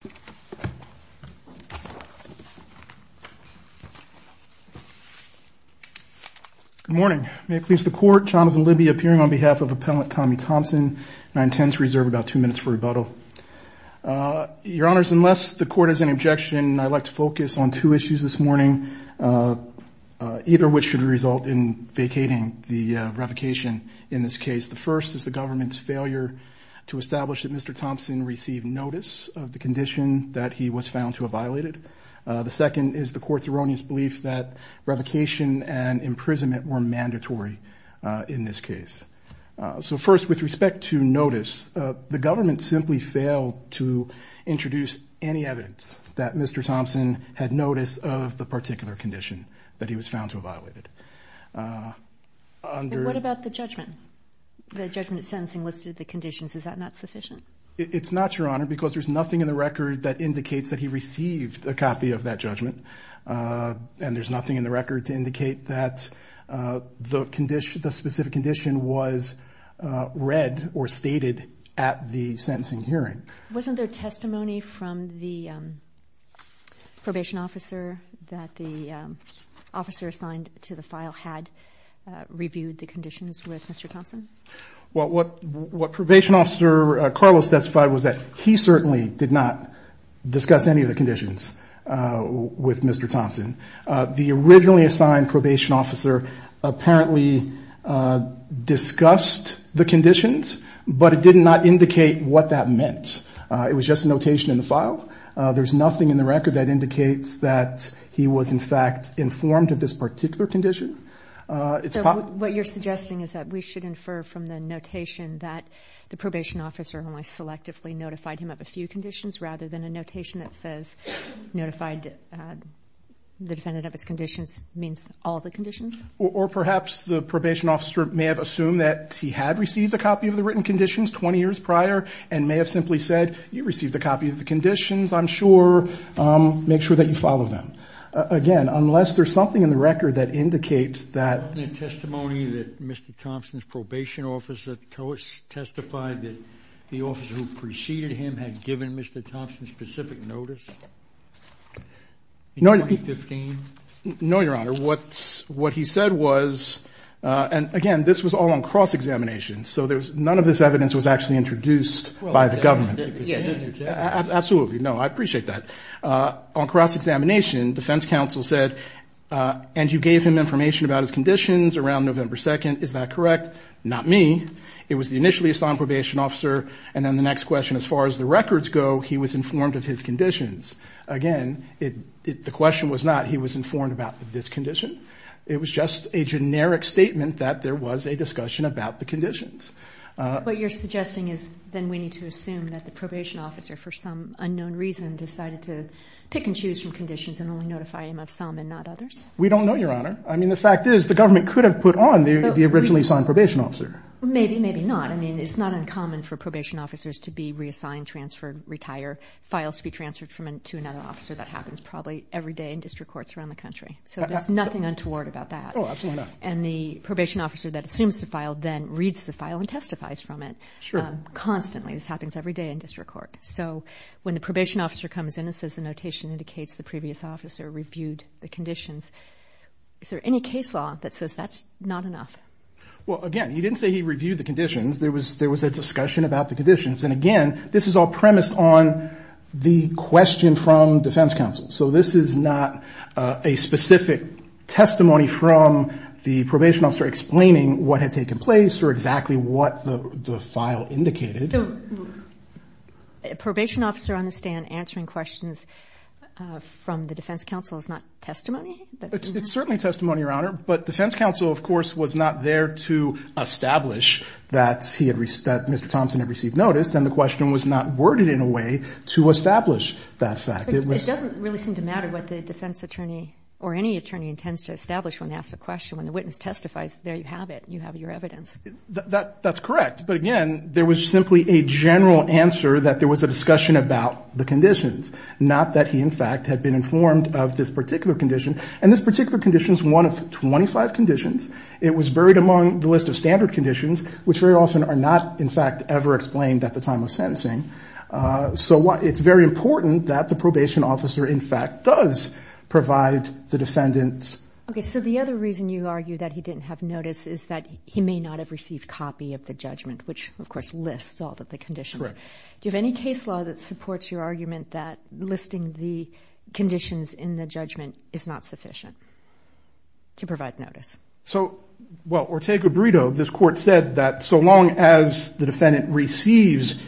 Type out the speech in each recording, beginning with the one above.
Good morning. May it please the court, Jonathan Libby, appearing on behalf of appellant Tommie Thompson. I intend to reserve about two minutes for rebuttal. Your honors, unless the court has any objection, I'd like to focus on two issues this morning, either which should result in vacating the revocation in this case. The first is the government's failure to establish that Mr. Thompson received notice of the condition that he was found to have violated. The second is the court's erroneous belief that revocation and imprisonment were mandatory in this case. So first, with respect to notice, the government simply failed to introduce any evidence that Mr. Thompson had notice of the particular condition that he was found to have violated. And what about the judgment? The judgment sentencing listed the conditions. Is that not sufficient? It's not, your honor, because there's nothing in the record that indicates that he received a copy of that judgment. And there's nothing in the record to indicate that the specific condition was read or stated at the sentencing hearing. Wasn't there testimony from the probation officer that the officer assigned to the file had reviewed the conditions with Mr. Thompson? What probation officer Carlos testified was that he certainly did not discuss any of the conditions with Mr. Thompson. The originally assigned probation officer apparently discussed the conditions, but it did not indicate what that meant. It was just notation in the file. There's nothing in the record that indicates that he was, in fact, informed of this particular condition. So what you're suggesting is that we should infer from the notation that the probation officer only selectively notified him of a few conditions rather than a notation that says notified the defendant of his conditions means all the conditions? Or perhaps the probation officer may have assumed that he had received a copy of the written conditions 20 years prior and may have simply said, you received a copy of the conditions, I'm sure, make sure that you follow them. Again, unless there's something in the record that indicates that... Wasn't there testimony that Mr. Thompson's probation officer testified that the officer who preceded him had given Mr. Thompson specific notice in 2015? No, Your Honor. What he said was, and again, this was all on cross-examination, so there's none of this evidence was actually introduced by the government. Absolutely. No, I appreciate that. On cross-examination, defense counsel said, and you gave him information about his conditions around November 2nd, is that correct? Not me. It was the initially assigned probation officer. And then the next question, as far as the records go, he was informed about this condition. It was just a generic statement that there was a discussion about the conditions. What you're suggesting is then we need to assume that the probation officer, for some unknown reason, decided to pick and choose from conditions and only notify him of some and not others? We don't know, Your Honor. I mean, the fact is, the government could have put on the originally assigned probation officer. Maybe, maybe not. I mean, it's not uncommon for probation officers to be reassigned, transferred, retire, files to be transferred to another officer. That happens probably every day in the country. So there's nothing untoward about that. Oh, absolutely not. And the probation officer that assumes the file then reads the file and testifies from it constantly. This happens every day in district court. So when the probation officer comes in and says the notation indicates the previous officer reviewed the conditions, is there any case law that says that's not enough? Well, again, he didn't say he reviewed the conditions. There was a discussion about the conditions. And again, this is all premised on the question from defense counsel. So this is not a specific testimony from the probation officer explaining what had taken place or exactly what the file indicated. Probation officer on the stand answering questions from the defense counsel is not testimony? It's certainly testimony, Your Honor. But defense counsel, of course, was not there to establish that he had, that Mr. Thompson had received notice. And the question was not worded in a way to establish that fact. It doesn't really seem to matter what the defense attorney or any attorney intends to establish when they ask a question. When the witness testifies, there you have it. You have your evidence. That's correct. But again, there was simply a general answer that there was a discussion about the conditions, not that he, in fact, had been informed of this particular condition. And this particular condition is one of 25 conditions. It was buried among the list of standard conditions, which very often are not, in fact, ever explained at the time of probation officer, in fact, does provide the defendant's... Okay. So the other reason you argue that he didn't have notice is that he may not have received copy of the judgment, which, of course, lists all of the conditions. Correct. Do you have any case law that supports your argument that listing the conditions in the judgment is not sufficient to provide notice? So, well, or take a burrito. This court said that so long as the defendant receives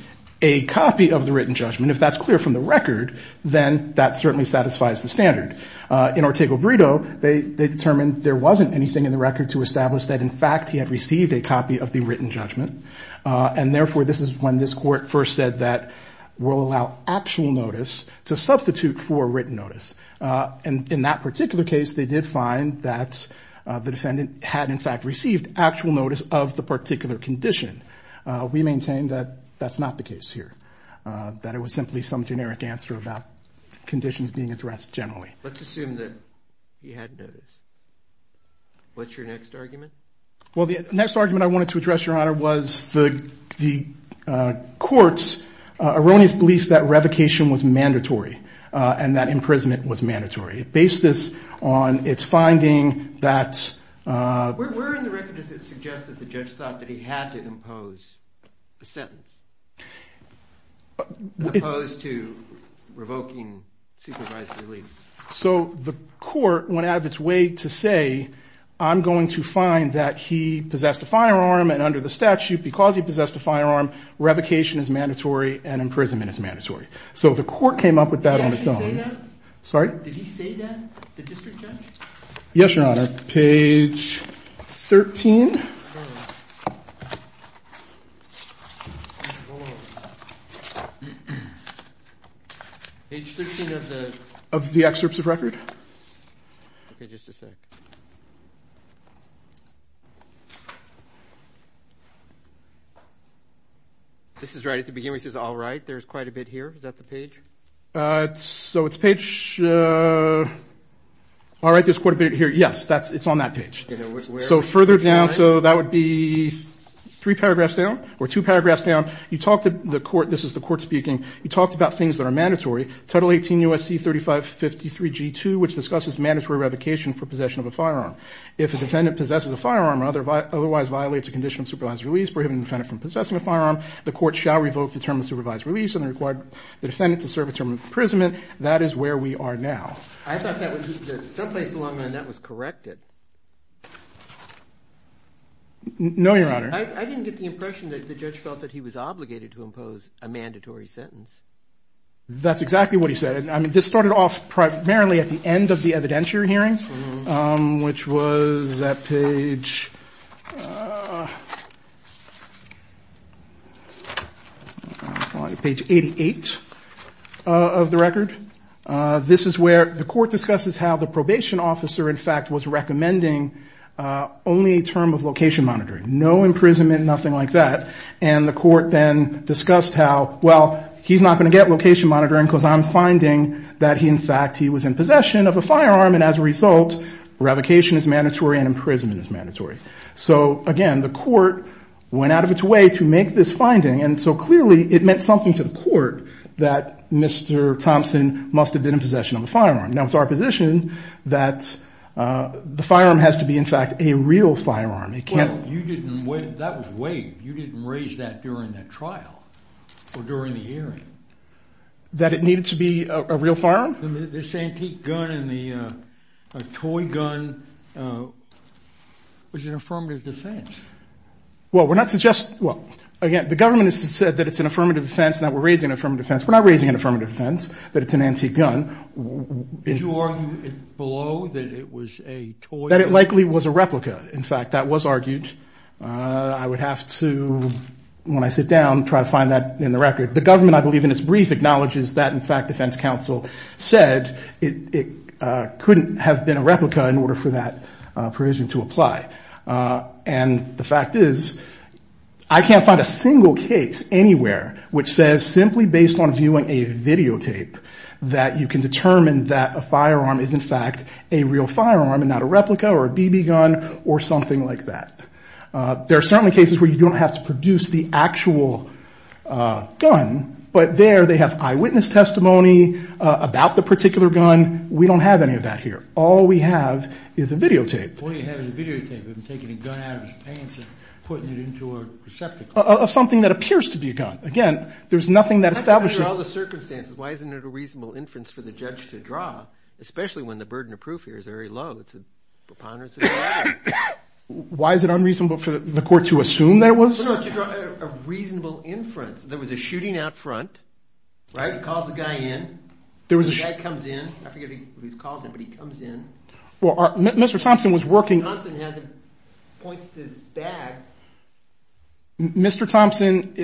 a copy of the written judgment, if that's clear from the record, then that certainly satisfies the standard. In our take a burrito, they determined there wasn't anything in the record to establish that, in fact, he had received a copy of the written judgment. And therefore, this is when this court first said that we'll allow actual notice to substitute for written notice. And in that particular case, they did find that the defendant had, in fact, received actual notice of the particular condition. We maintain that that's not the case here, that it was simply some generic answer about conditions being addressed generally. Let's assume that he had notice. What's your next argument? Well, the next argument I wanted to address, Your Honor, was the court's erroneous belief that revocation was mandatory and that imprisonment was mandatory. It based this on its finding that... Where in the record does it suggest that the judge thought that he had to impose a sentence? As opposed to revoking supervised release. So the court went out of its way to say, I'm going to find that he possessed a firearm and under the statute, because he possessed a firearm, revocation is mandatory and imprisonment is mandatory. So the court came up with that on its own. Did he say that? Sorry? Did he say that, the district judge? Yes, Your Honor. Page 13. Page 13 of the... Of the excerpts of record? Okay, just a sec. This is right at the beginning where he says, all right, there's quite a bit here. Is that the page? So it's page... All right, there's quite a bit here. Yes, it's on that page. Okay, now where... So further down, so that would be three paragraphs down or two paragraphs down. You talked to the court, this is the court speaking, you talked about things that are mandatory. Title 18 U.S.C. 3553 G2, which discusses mandatory revocation for possession of a firearm. If a defendant possesses a firearm or otherwise violates a condition of supervised release prohibiting the defendant from possessing a firearm, the court shall revoke the term of supervised release and require the defendant to serve a term of imprisonment. That is where we are now. I thought that was... Some place along the line that was corrected. No, Your Honor. I didn't get the impression that the judge felt that he was obligated to impose a mandatory sentence. That's exactly what he said. I mean, this started off primarily at the end of the evidentiary hearing, which was at page 88 of the record. This is where the court discusses how the probation officer, in fact, was recommending only a term of location monitoring. No imprisonment, nothing like that. And the court then discussed how, well, he's not going to get location monitoring because I'm finding that he, in fact, he was in possession of a firearm and as a result, revocation is mandatory and imprisonment is mandatory. So again, the court went out of its way to make this finding. And so clearly it meant something to the court that Mr. Thompson must have been in possession of a firearm. Now it's our position that the firearm has to be, in fact, a real firearm. Well, you didn't... That was waived. You didn't raise that during that trial or during the hearing. That it needed to be a real firearm? This antique gun and the toy gun was an affirmative defense. Well, we're not suggesting... Well, again, the government has said that it's an affirmative defense and that we're raising an affirmative defense. We're not raising an affirmative defense that it's an antique gun. Did you argue below that it was a toy gun? That it likely was a replica. In fact, that was argued. I would have to, when I sit down, try to find that in the record. The government, I believe, in its brief acknowledges that, in fact, defense counsel said it couldn't have been a replica in order for that provision to apply. And the fact is, I can't find a single case anywhere which says simply based on viewing a videotape that you can determine that a firearm is in fact a real firearm and not a replica or a BB gun or something like that. There are certainly cases where you don't have to produce the actual gun, but there they have eyewitness testimony about the particular gun. We don't have any of that here. All we have is a videotape. All you have is a videotape of him taking a gun out of his pants and putting it into a receptacle. Of something that appears to be a gun. Again, there's nothing that establishes... Under all the circumstances, why isn't it a reasonable inference for the judge to draw, especially when the burden of proof here is very low? It's a preponderance of the law. Why is it unreasonable for the court to assume that it was? No, no. To draw a reasonable inference. There was a shooting out front, right? He calls the guy in. The guy comes in. I forget who he's calling, but he comes in. Mr. Thompson was working... Thompson has it, points to his bag. Mr. Thompson,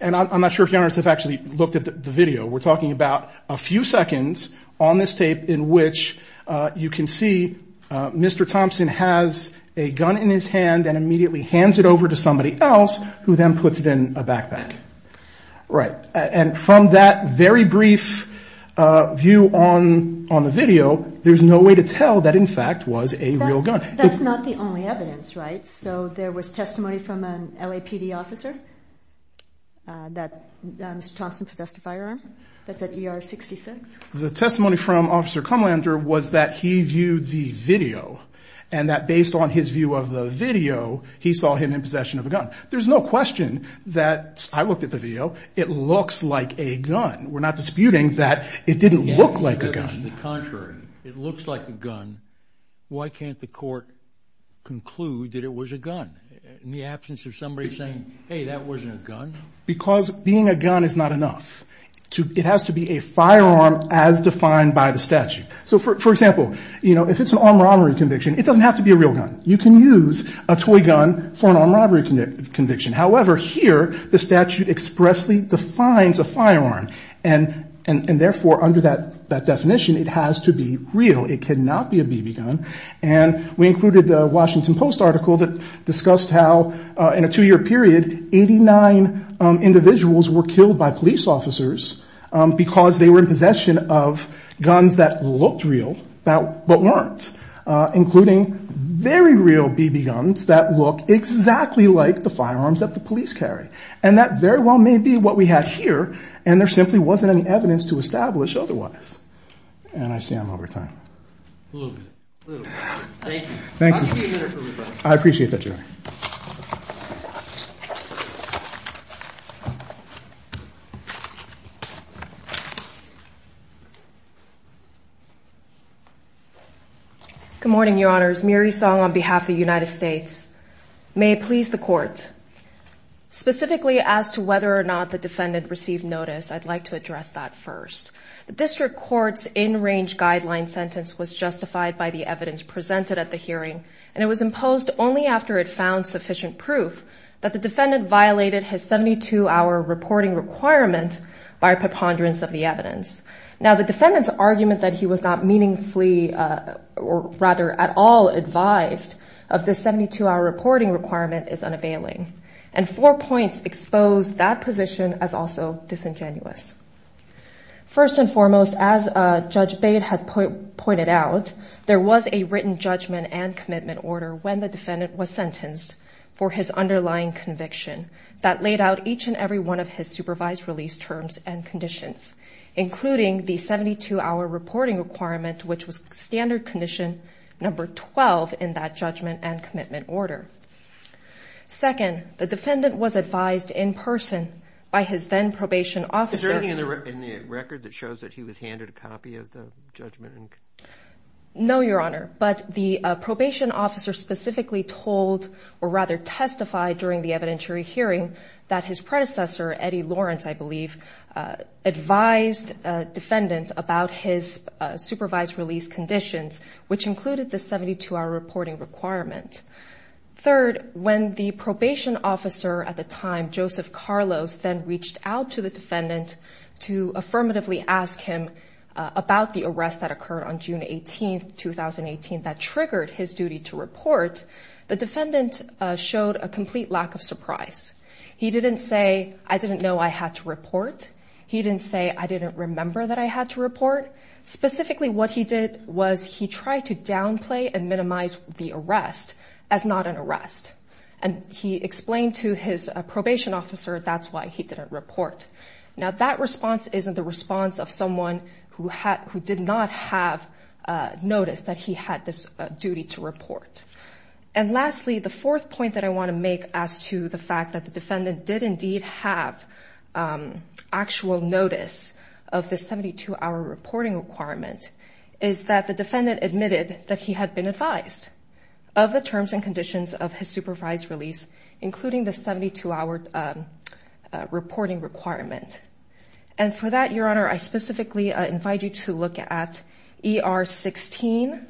and I'm not sure if you have actually looked at the video, we're talking about a few seconds on this tape in which you can see Mr. Thompson has a gun in his hands. And there's somebody else who then puts it in a backpack. And from that very brief view on the video, there's no way to tell that, in fact, was a real gun. That's not the only evidence, right? So there was testimony from an LAPD officer that Mr. Thompson possessed a firearm. That's at ER 66. The testimony from Officer Kumlander was that he viewed the video and that based on his view of the video, he saw him in possession of a gun. There's no question that, I looked at the video, it looks like a gun. We're not disputing that it didn't look like a gun. Yeah, it's the contrary. It looks like a gun. Why can't the court conclude that it was a gun in the absence of somebody saying, hey, that wasn't a gun? Because being a gun is not enough. It has to be a firearm as defined by the statute. So for example, you know, if it's an armed robbery conviction, it doesn't have to be a real gun. You can use a toy gun for an armed robbery conviction. However, here, the statute expressly defines a firearm. And therefore, under that definition, it has to be real. It cannot be a BB gun. And we included the Washington Post article that discussed how in a two-year period, 89 individuals were killed by police officers because they were in possession of guns that looked real but weren't, including very real BB guns that look exactly like the firearms that the police carry. And that very well may be what we have here. And there simply wasn't any evidence to establish otherwise. And I see I'm over time. A little bit. A little bit. Thank you. Thank you. I'll be a minute for everybody. Good morning, Your Honors. Miri Song on behalf of the United States. May it please the Court. Specifically as to whether or not the defendant received notice, I'd like to address that first. The District Court's in-range guideline sentence was justified by the evidence presented at the hearing. And it was imposed only after it found sufficient proof that the defendant violated his 72-hour reporting requirement by preponderance of the evidence. Now, the defendant's argument that he was not meaningfully or rather at all advised of the 72-hour reporting requirement is unavailing. And four points expose that position as also disingenuous. First and foremost, as Judge Bate has pointed out, there was a written judgment and commitment order when the defendant was sentenced for his underlying conviction that laid out each and every one of his supervised release terms and conditions, including the 72-hour reporting requirement, which was standard condition number 12 in that judgment and commitment order. Second, the defendant was advised in person by his then-probation officer. Is there anything in the record that shows that he was handed a copy of the judgment? No, Your Honor. But the probation officer specifically told or rather testified during the evidentiary hearing that his predecessor, Eddie Lawrence, I believe, advised a defendant about his supervised release conditions, which included the 72-hour reporting requirement. Third, when the probation officer at the time, Joseph Carlos, then reached out to the defendant to affirmatively ask him about the arrest that occurred on June 18, 2018, that triggered his duty to report, the defendant showed a complete lack of surprise. He didn't say, I didn't know I had to report. He didn't say, I didn't remember that I had to report. Specifically, what he did was he tried to downplay and minimize the arrest as not an arrest. And he explained to his probation officer that's why he didn't report. Now, that response isn't the response of someone who did not have noticed that he had this duty to report. And lastly, the fourth point that I want to make as to the fact that the defendant did indeed have actual notice of the 72-hour reporting requirement is that the defendant admitted that he had been advised of the terms and conditions of his supervised release, including the 72-hour reporting requirement. And for that, Your Honor, I specifically invite you to look at ER 16,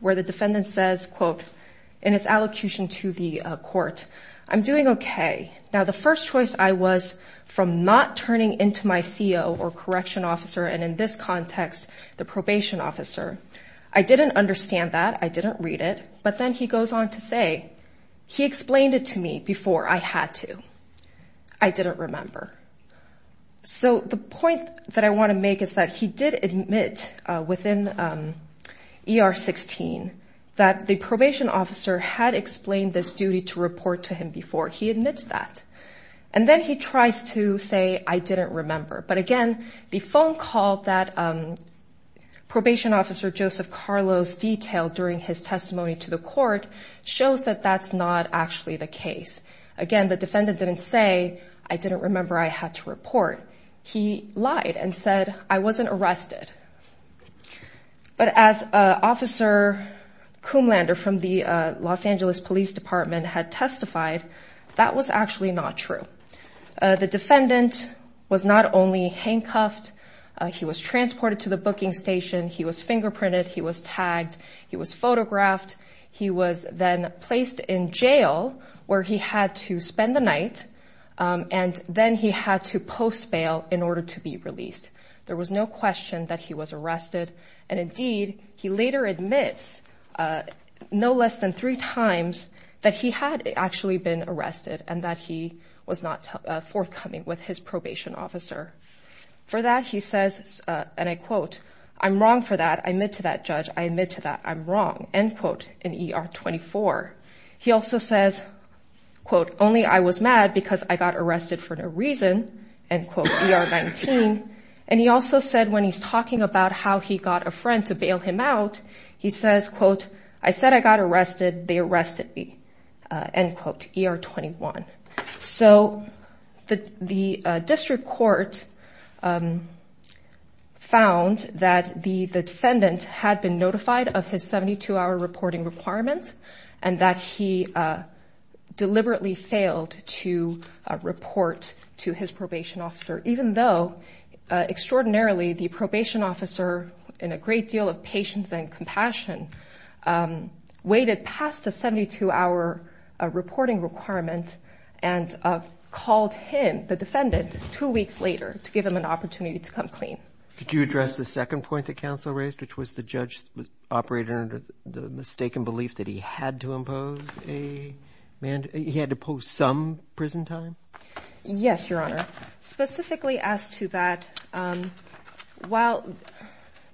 where the defendant says, quote, in his allocution to the court, I'm doing okay. Now, the first choice I was from not turning into my CO or correction officer, and in this context, the probation officer, I didn't understand that. I didn't read it. But then he goes on to say, he explained it to me before I had to. I didn't remember. So the point that I want to make is that he did admit within ER 16 that the probation officer had explained this duty to report to him before. He admits that. And then he tries to say, I didn't remember. But again, the phone call that probation officer Joseph Carlos detailed during his testimony to the court shows that that's not actually the case. And again, the defendant didn't say, I didn't remember I had to report. He lied and said, I wasn't arrested. But as Officer Kumlander from the Los Angeles Police Department had testified, that was actually not true. The defendant was not only handcuffed, he was transported to the booking station. He was fingerprinted. He was tagged. He was photographed. He was then placed in jail where he had to spend the night. And then he had to post bail in order to be released. There was no question that he was arrested. And indeed, he later admits no less than three times that he had actually been arrested and that he was not forthcoming with his probation officer. For that, he says, and I quote, I'm wrong for that. I admit to that, Judge. I admit to that. I admit that I'm wrong, end quote, in ER 24. He also says, quote, only I was mad because I got arrested for no reason, end quote, ER 19. And he also said when he's talking about how he got a friend to bail him out, he says, quote, I said I got arrested, they arrested me, end quote, ER 21. So the district court found that the defendant had been notified of his 72-hour reporting requirements and that he deliberately failed to report to his probation officer, even though extraordinarily the probation officer, in a great deal of patience and compassion, waited past the 72-hour reporting requirement and called him, the defendant, two weeks later to give him an opportunity to come clean. Could you address the second point that counsel raised, which was the judge operated under the mistaken belief that he had to impose a mandate, he had to post some prison time? Yes, Your Honor. Specifically as to that, while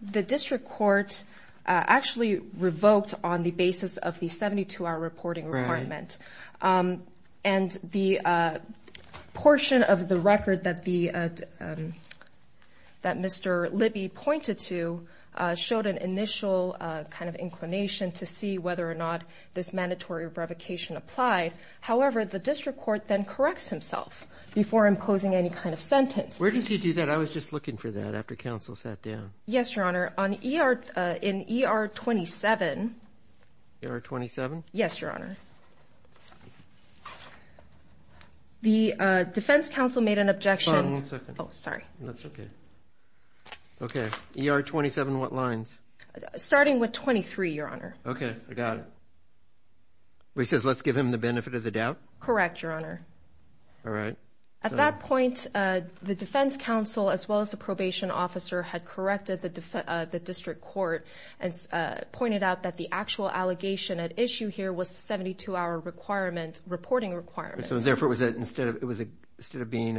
the district court actually revoked on the basis of the 72-hour reporting requirement, and the portion of the record that Mr. Libby pointed to showed an initial kind of inclination to see whether or not this mandatory revocation applied. However, the district court then corrects himself before imposing any kind of sentence. Where did he do that? I was just looking for that after counsel sat down. Yes, Your Honor. On ER, in ER 27. ER 27? Yes, Your Honor. The defense counsel made an objection. Fine, one second. Oh, sorry. That's okay. Okay. ER 27, what lines? Starting with 23, Your Honor. Okay, I got it. He says, let's give him the benefit of the doubt. Correct, Your Honor. All right. At that point, the defense counsel, as well as the probation officer, had corrected the district court and pointed out that the actual allegation at issue here was the 72-hour reporting requirement. So instead of being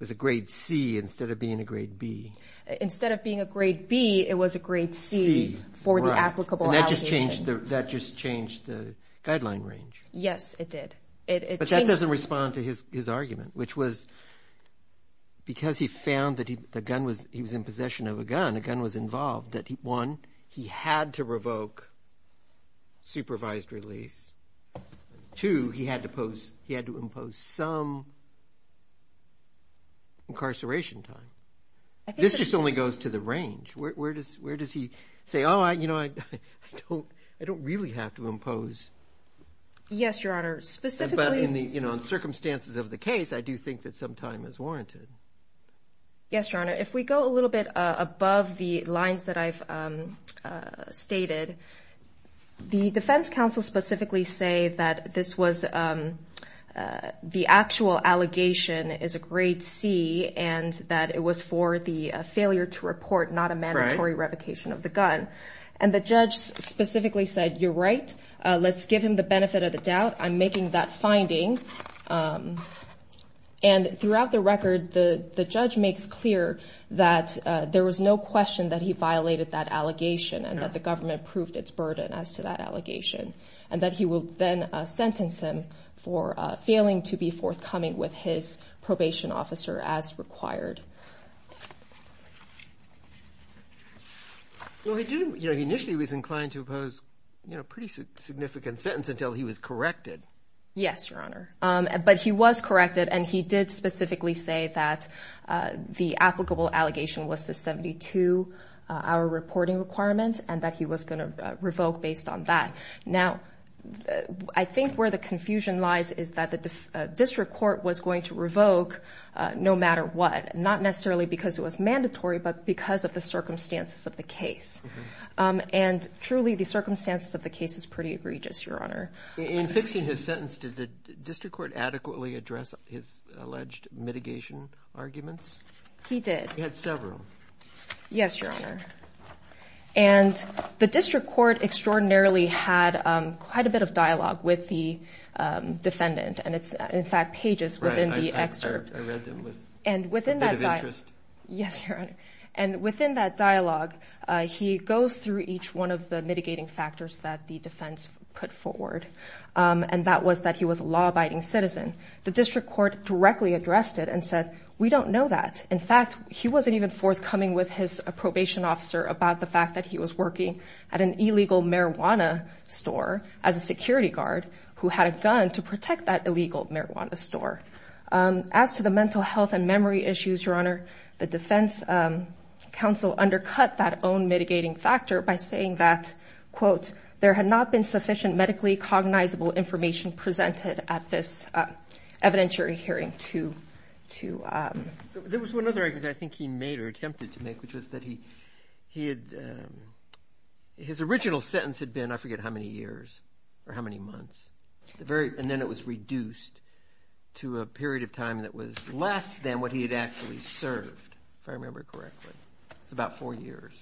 a grade C, instead of being a grade B. Instead of being a grade B, it was a grade C for the applicable allegation. And that just changed the guideline range. Yes, it did. But that doesn't respond to his argument, which was because he found that he was in possession of a gun, a gun was involved, that one, he had to revoke supervised release. Two, he had to impose some incarceration time. This just only goes to the range. Where does he say, oh, I don't really have to impose. Yes, Your Honor. Specifically. But in the circumstances of the case, I do think that some time is warranted. Yes, Your Honor. If we go a little bit above the lines that I've stated, the defense counsel specifically say that this was the actual allegation is a grade C and that it was for the failure to report, not a mandatory revocation of the gun. And the judge specifically said, you're right. Let's give him the benefit of the doubt. I'm making that finding. And throughout the record, the judge makes clear that there was no question that he violated that allegation and that the government proved its burden as to that allegation. And that he will then sentence him for failing to be forthcoming with his probation officer as required. Well, he did, you know, he initially was inclined to impose, you know, a pretty significant sentence until he was corrected. Yes, Your Honor. But he was corrected and he did specifically say that the applicable allegation was the 72-hour reporting requirement and that he was going to revoke based on that. Now, I think where the confusion lies is that the district court was going to revoke no matter what. Not necessarily because it was mandatory, but because of the circumstances of the case. And truly the circumstances of the case is pretty egregious, Your Honor. In fixing his sentence, did the district court adequately address his alleged mitigation arguments? He did. He had several. Yes, Your Honor. And the district court extraordinarily had quite a bit of dialogue with the defendant. And it's, in fact, pages within the excerpt. Right. I read them with a bit of interest. Yes, Your Honor. And within that dialogue, he goes through each one of the mitigating factors that the defense put forward. And that was that he was a law-abiding citizen. The district court directly addressed it and said, we don't know that. In fact, he wasn't even forthcoming with his probation officer about the fact that he was working at an illegal marijuana store as a security guard who had a gun to protect that illegal marijuana store. As to the mental health and memory issues, Your Honor, the defense counsel undercut that own mitigating factor by saying that, quote, there had not been sufficient medically cognizable information presented at this evidentiary hearing to... There was one other argument I think he made or attempted to make, which was that he had... His original sentence had been, I forget how many years or how many months, and then it was reduced to a period of time that was less than what he had actually served, if I remember correctly. It's about four years.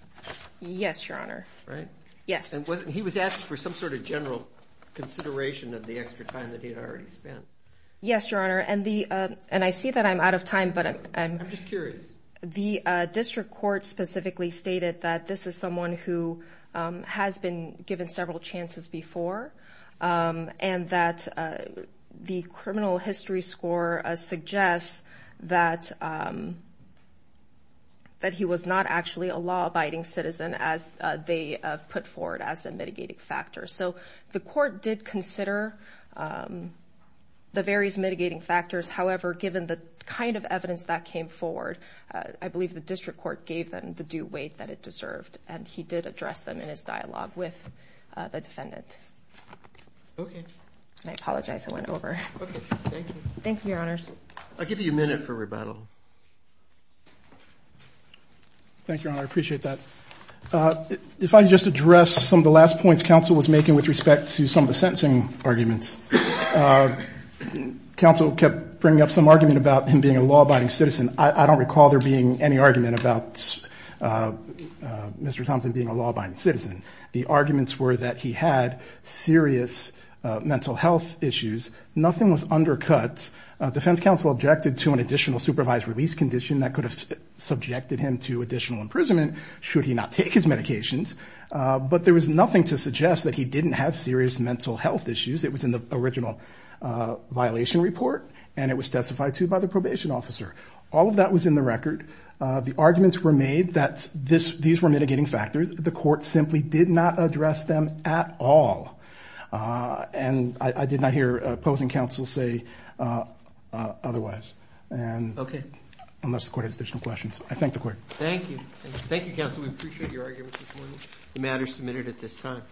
Yes, Your Honor. Right? Yes. And he was asked for some sort of general consideration of the extra time that he had already spent. Yes, Your Honor. And I see that I'm out of time, but I'm... I'm just curious. The district court specifically stated that this is someone who has been given several chances before, and that the criminal history score suggests that he was not actually a law abiding citizen as they put forward as a mitigating factor. So the court did consider the various mitigating factors. However, given the kind of evidence that came forward, I believe the district court gave them the due weight that it deserved, and he did address them in his dialogue with the defendant. Okay. I apologize. I went over. Okay. Thank you. Thank you, Your Honors. I'll give you a minute for rebuttal. Thank you, Your Honor. I appreciate that. If I just address some of the last points counsel was making with respect to some of the sentencing arguments, counsel kept bringing up some argument about him being a law abiding citizen. I don't recall there being any argument about Mr. Thompson being a law abiding citizen. The arguments were that he had serious mental health issues. Nothing was undercut. Defense counsel objected to an additional supervised release condition that could have subjected him to additional imprisonment should he not take his medications. But there was nothing to suggest that he didn't have serious mental health issues. It was in the original violation report, and it was testified to by the probation officer. All of that was in the record. The arguments were made that these were mitigating factors. The court simply did not address them at all. And I did not hear opposing counsel say otherwise, unless the court has additional questions. I thank the court. Thank you. Thank you, counsel. We appreciate your arguments this morning. The matter is submitted at this time.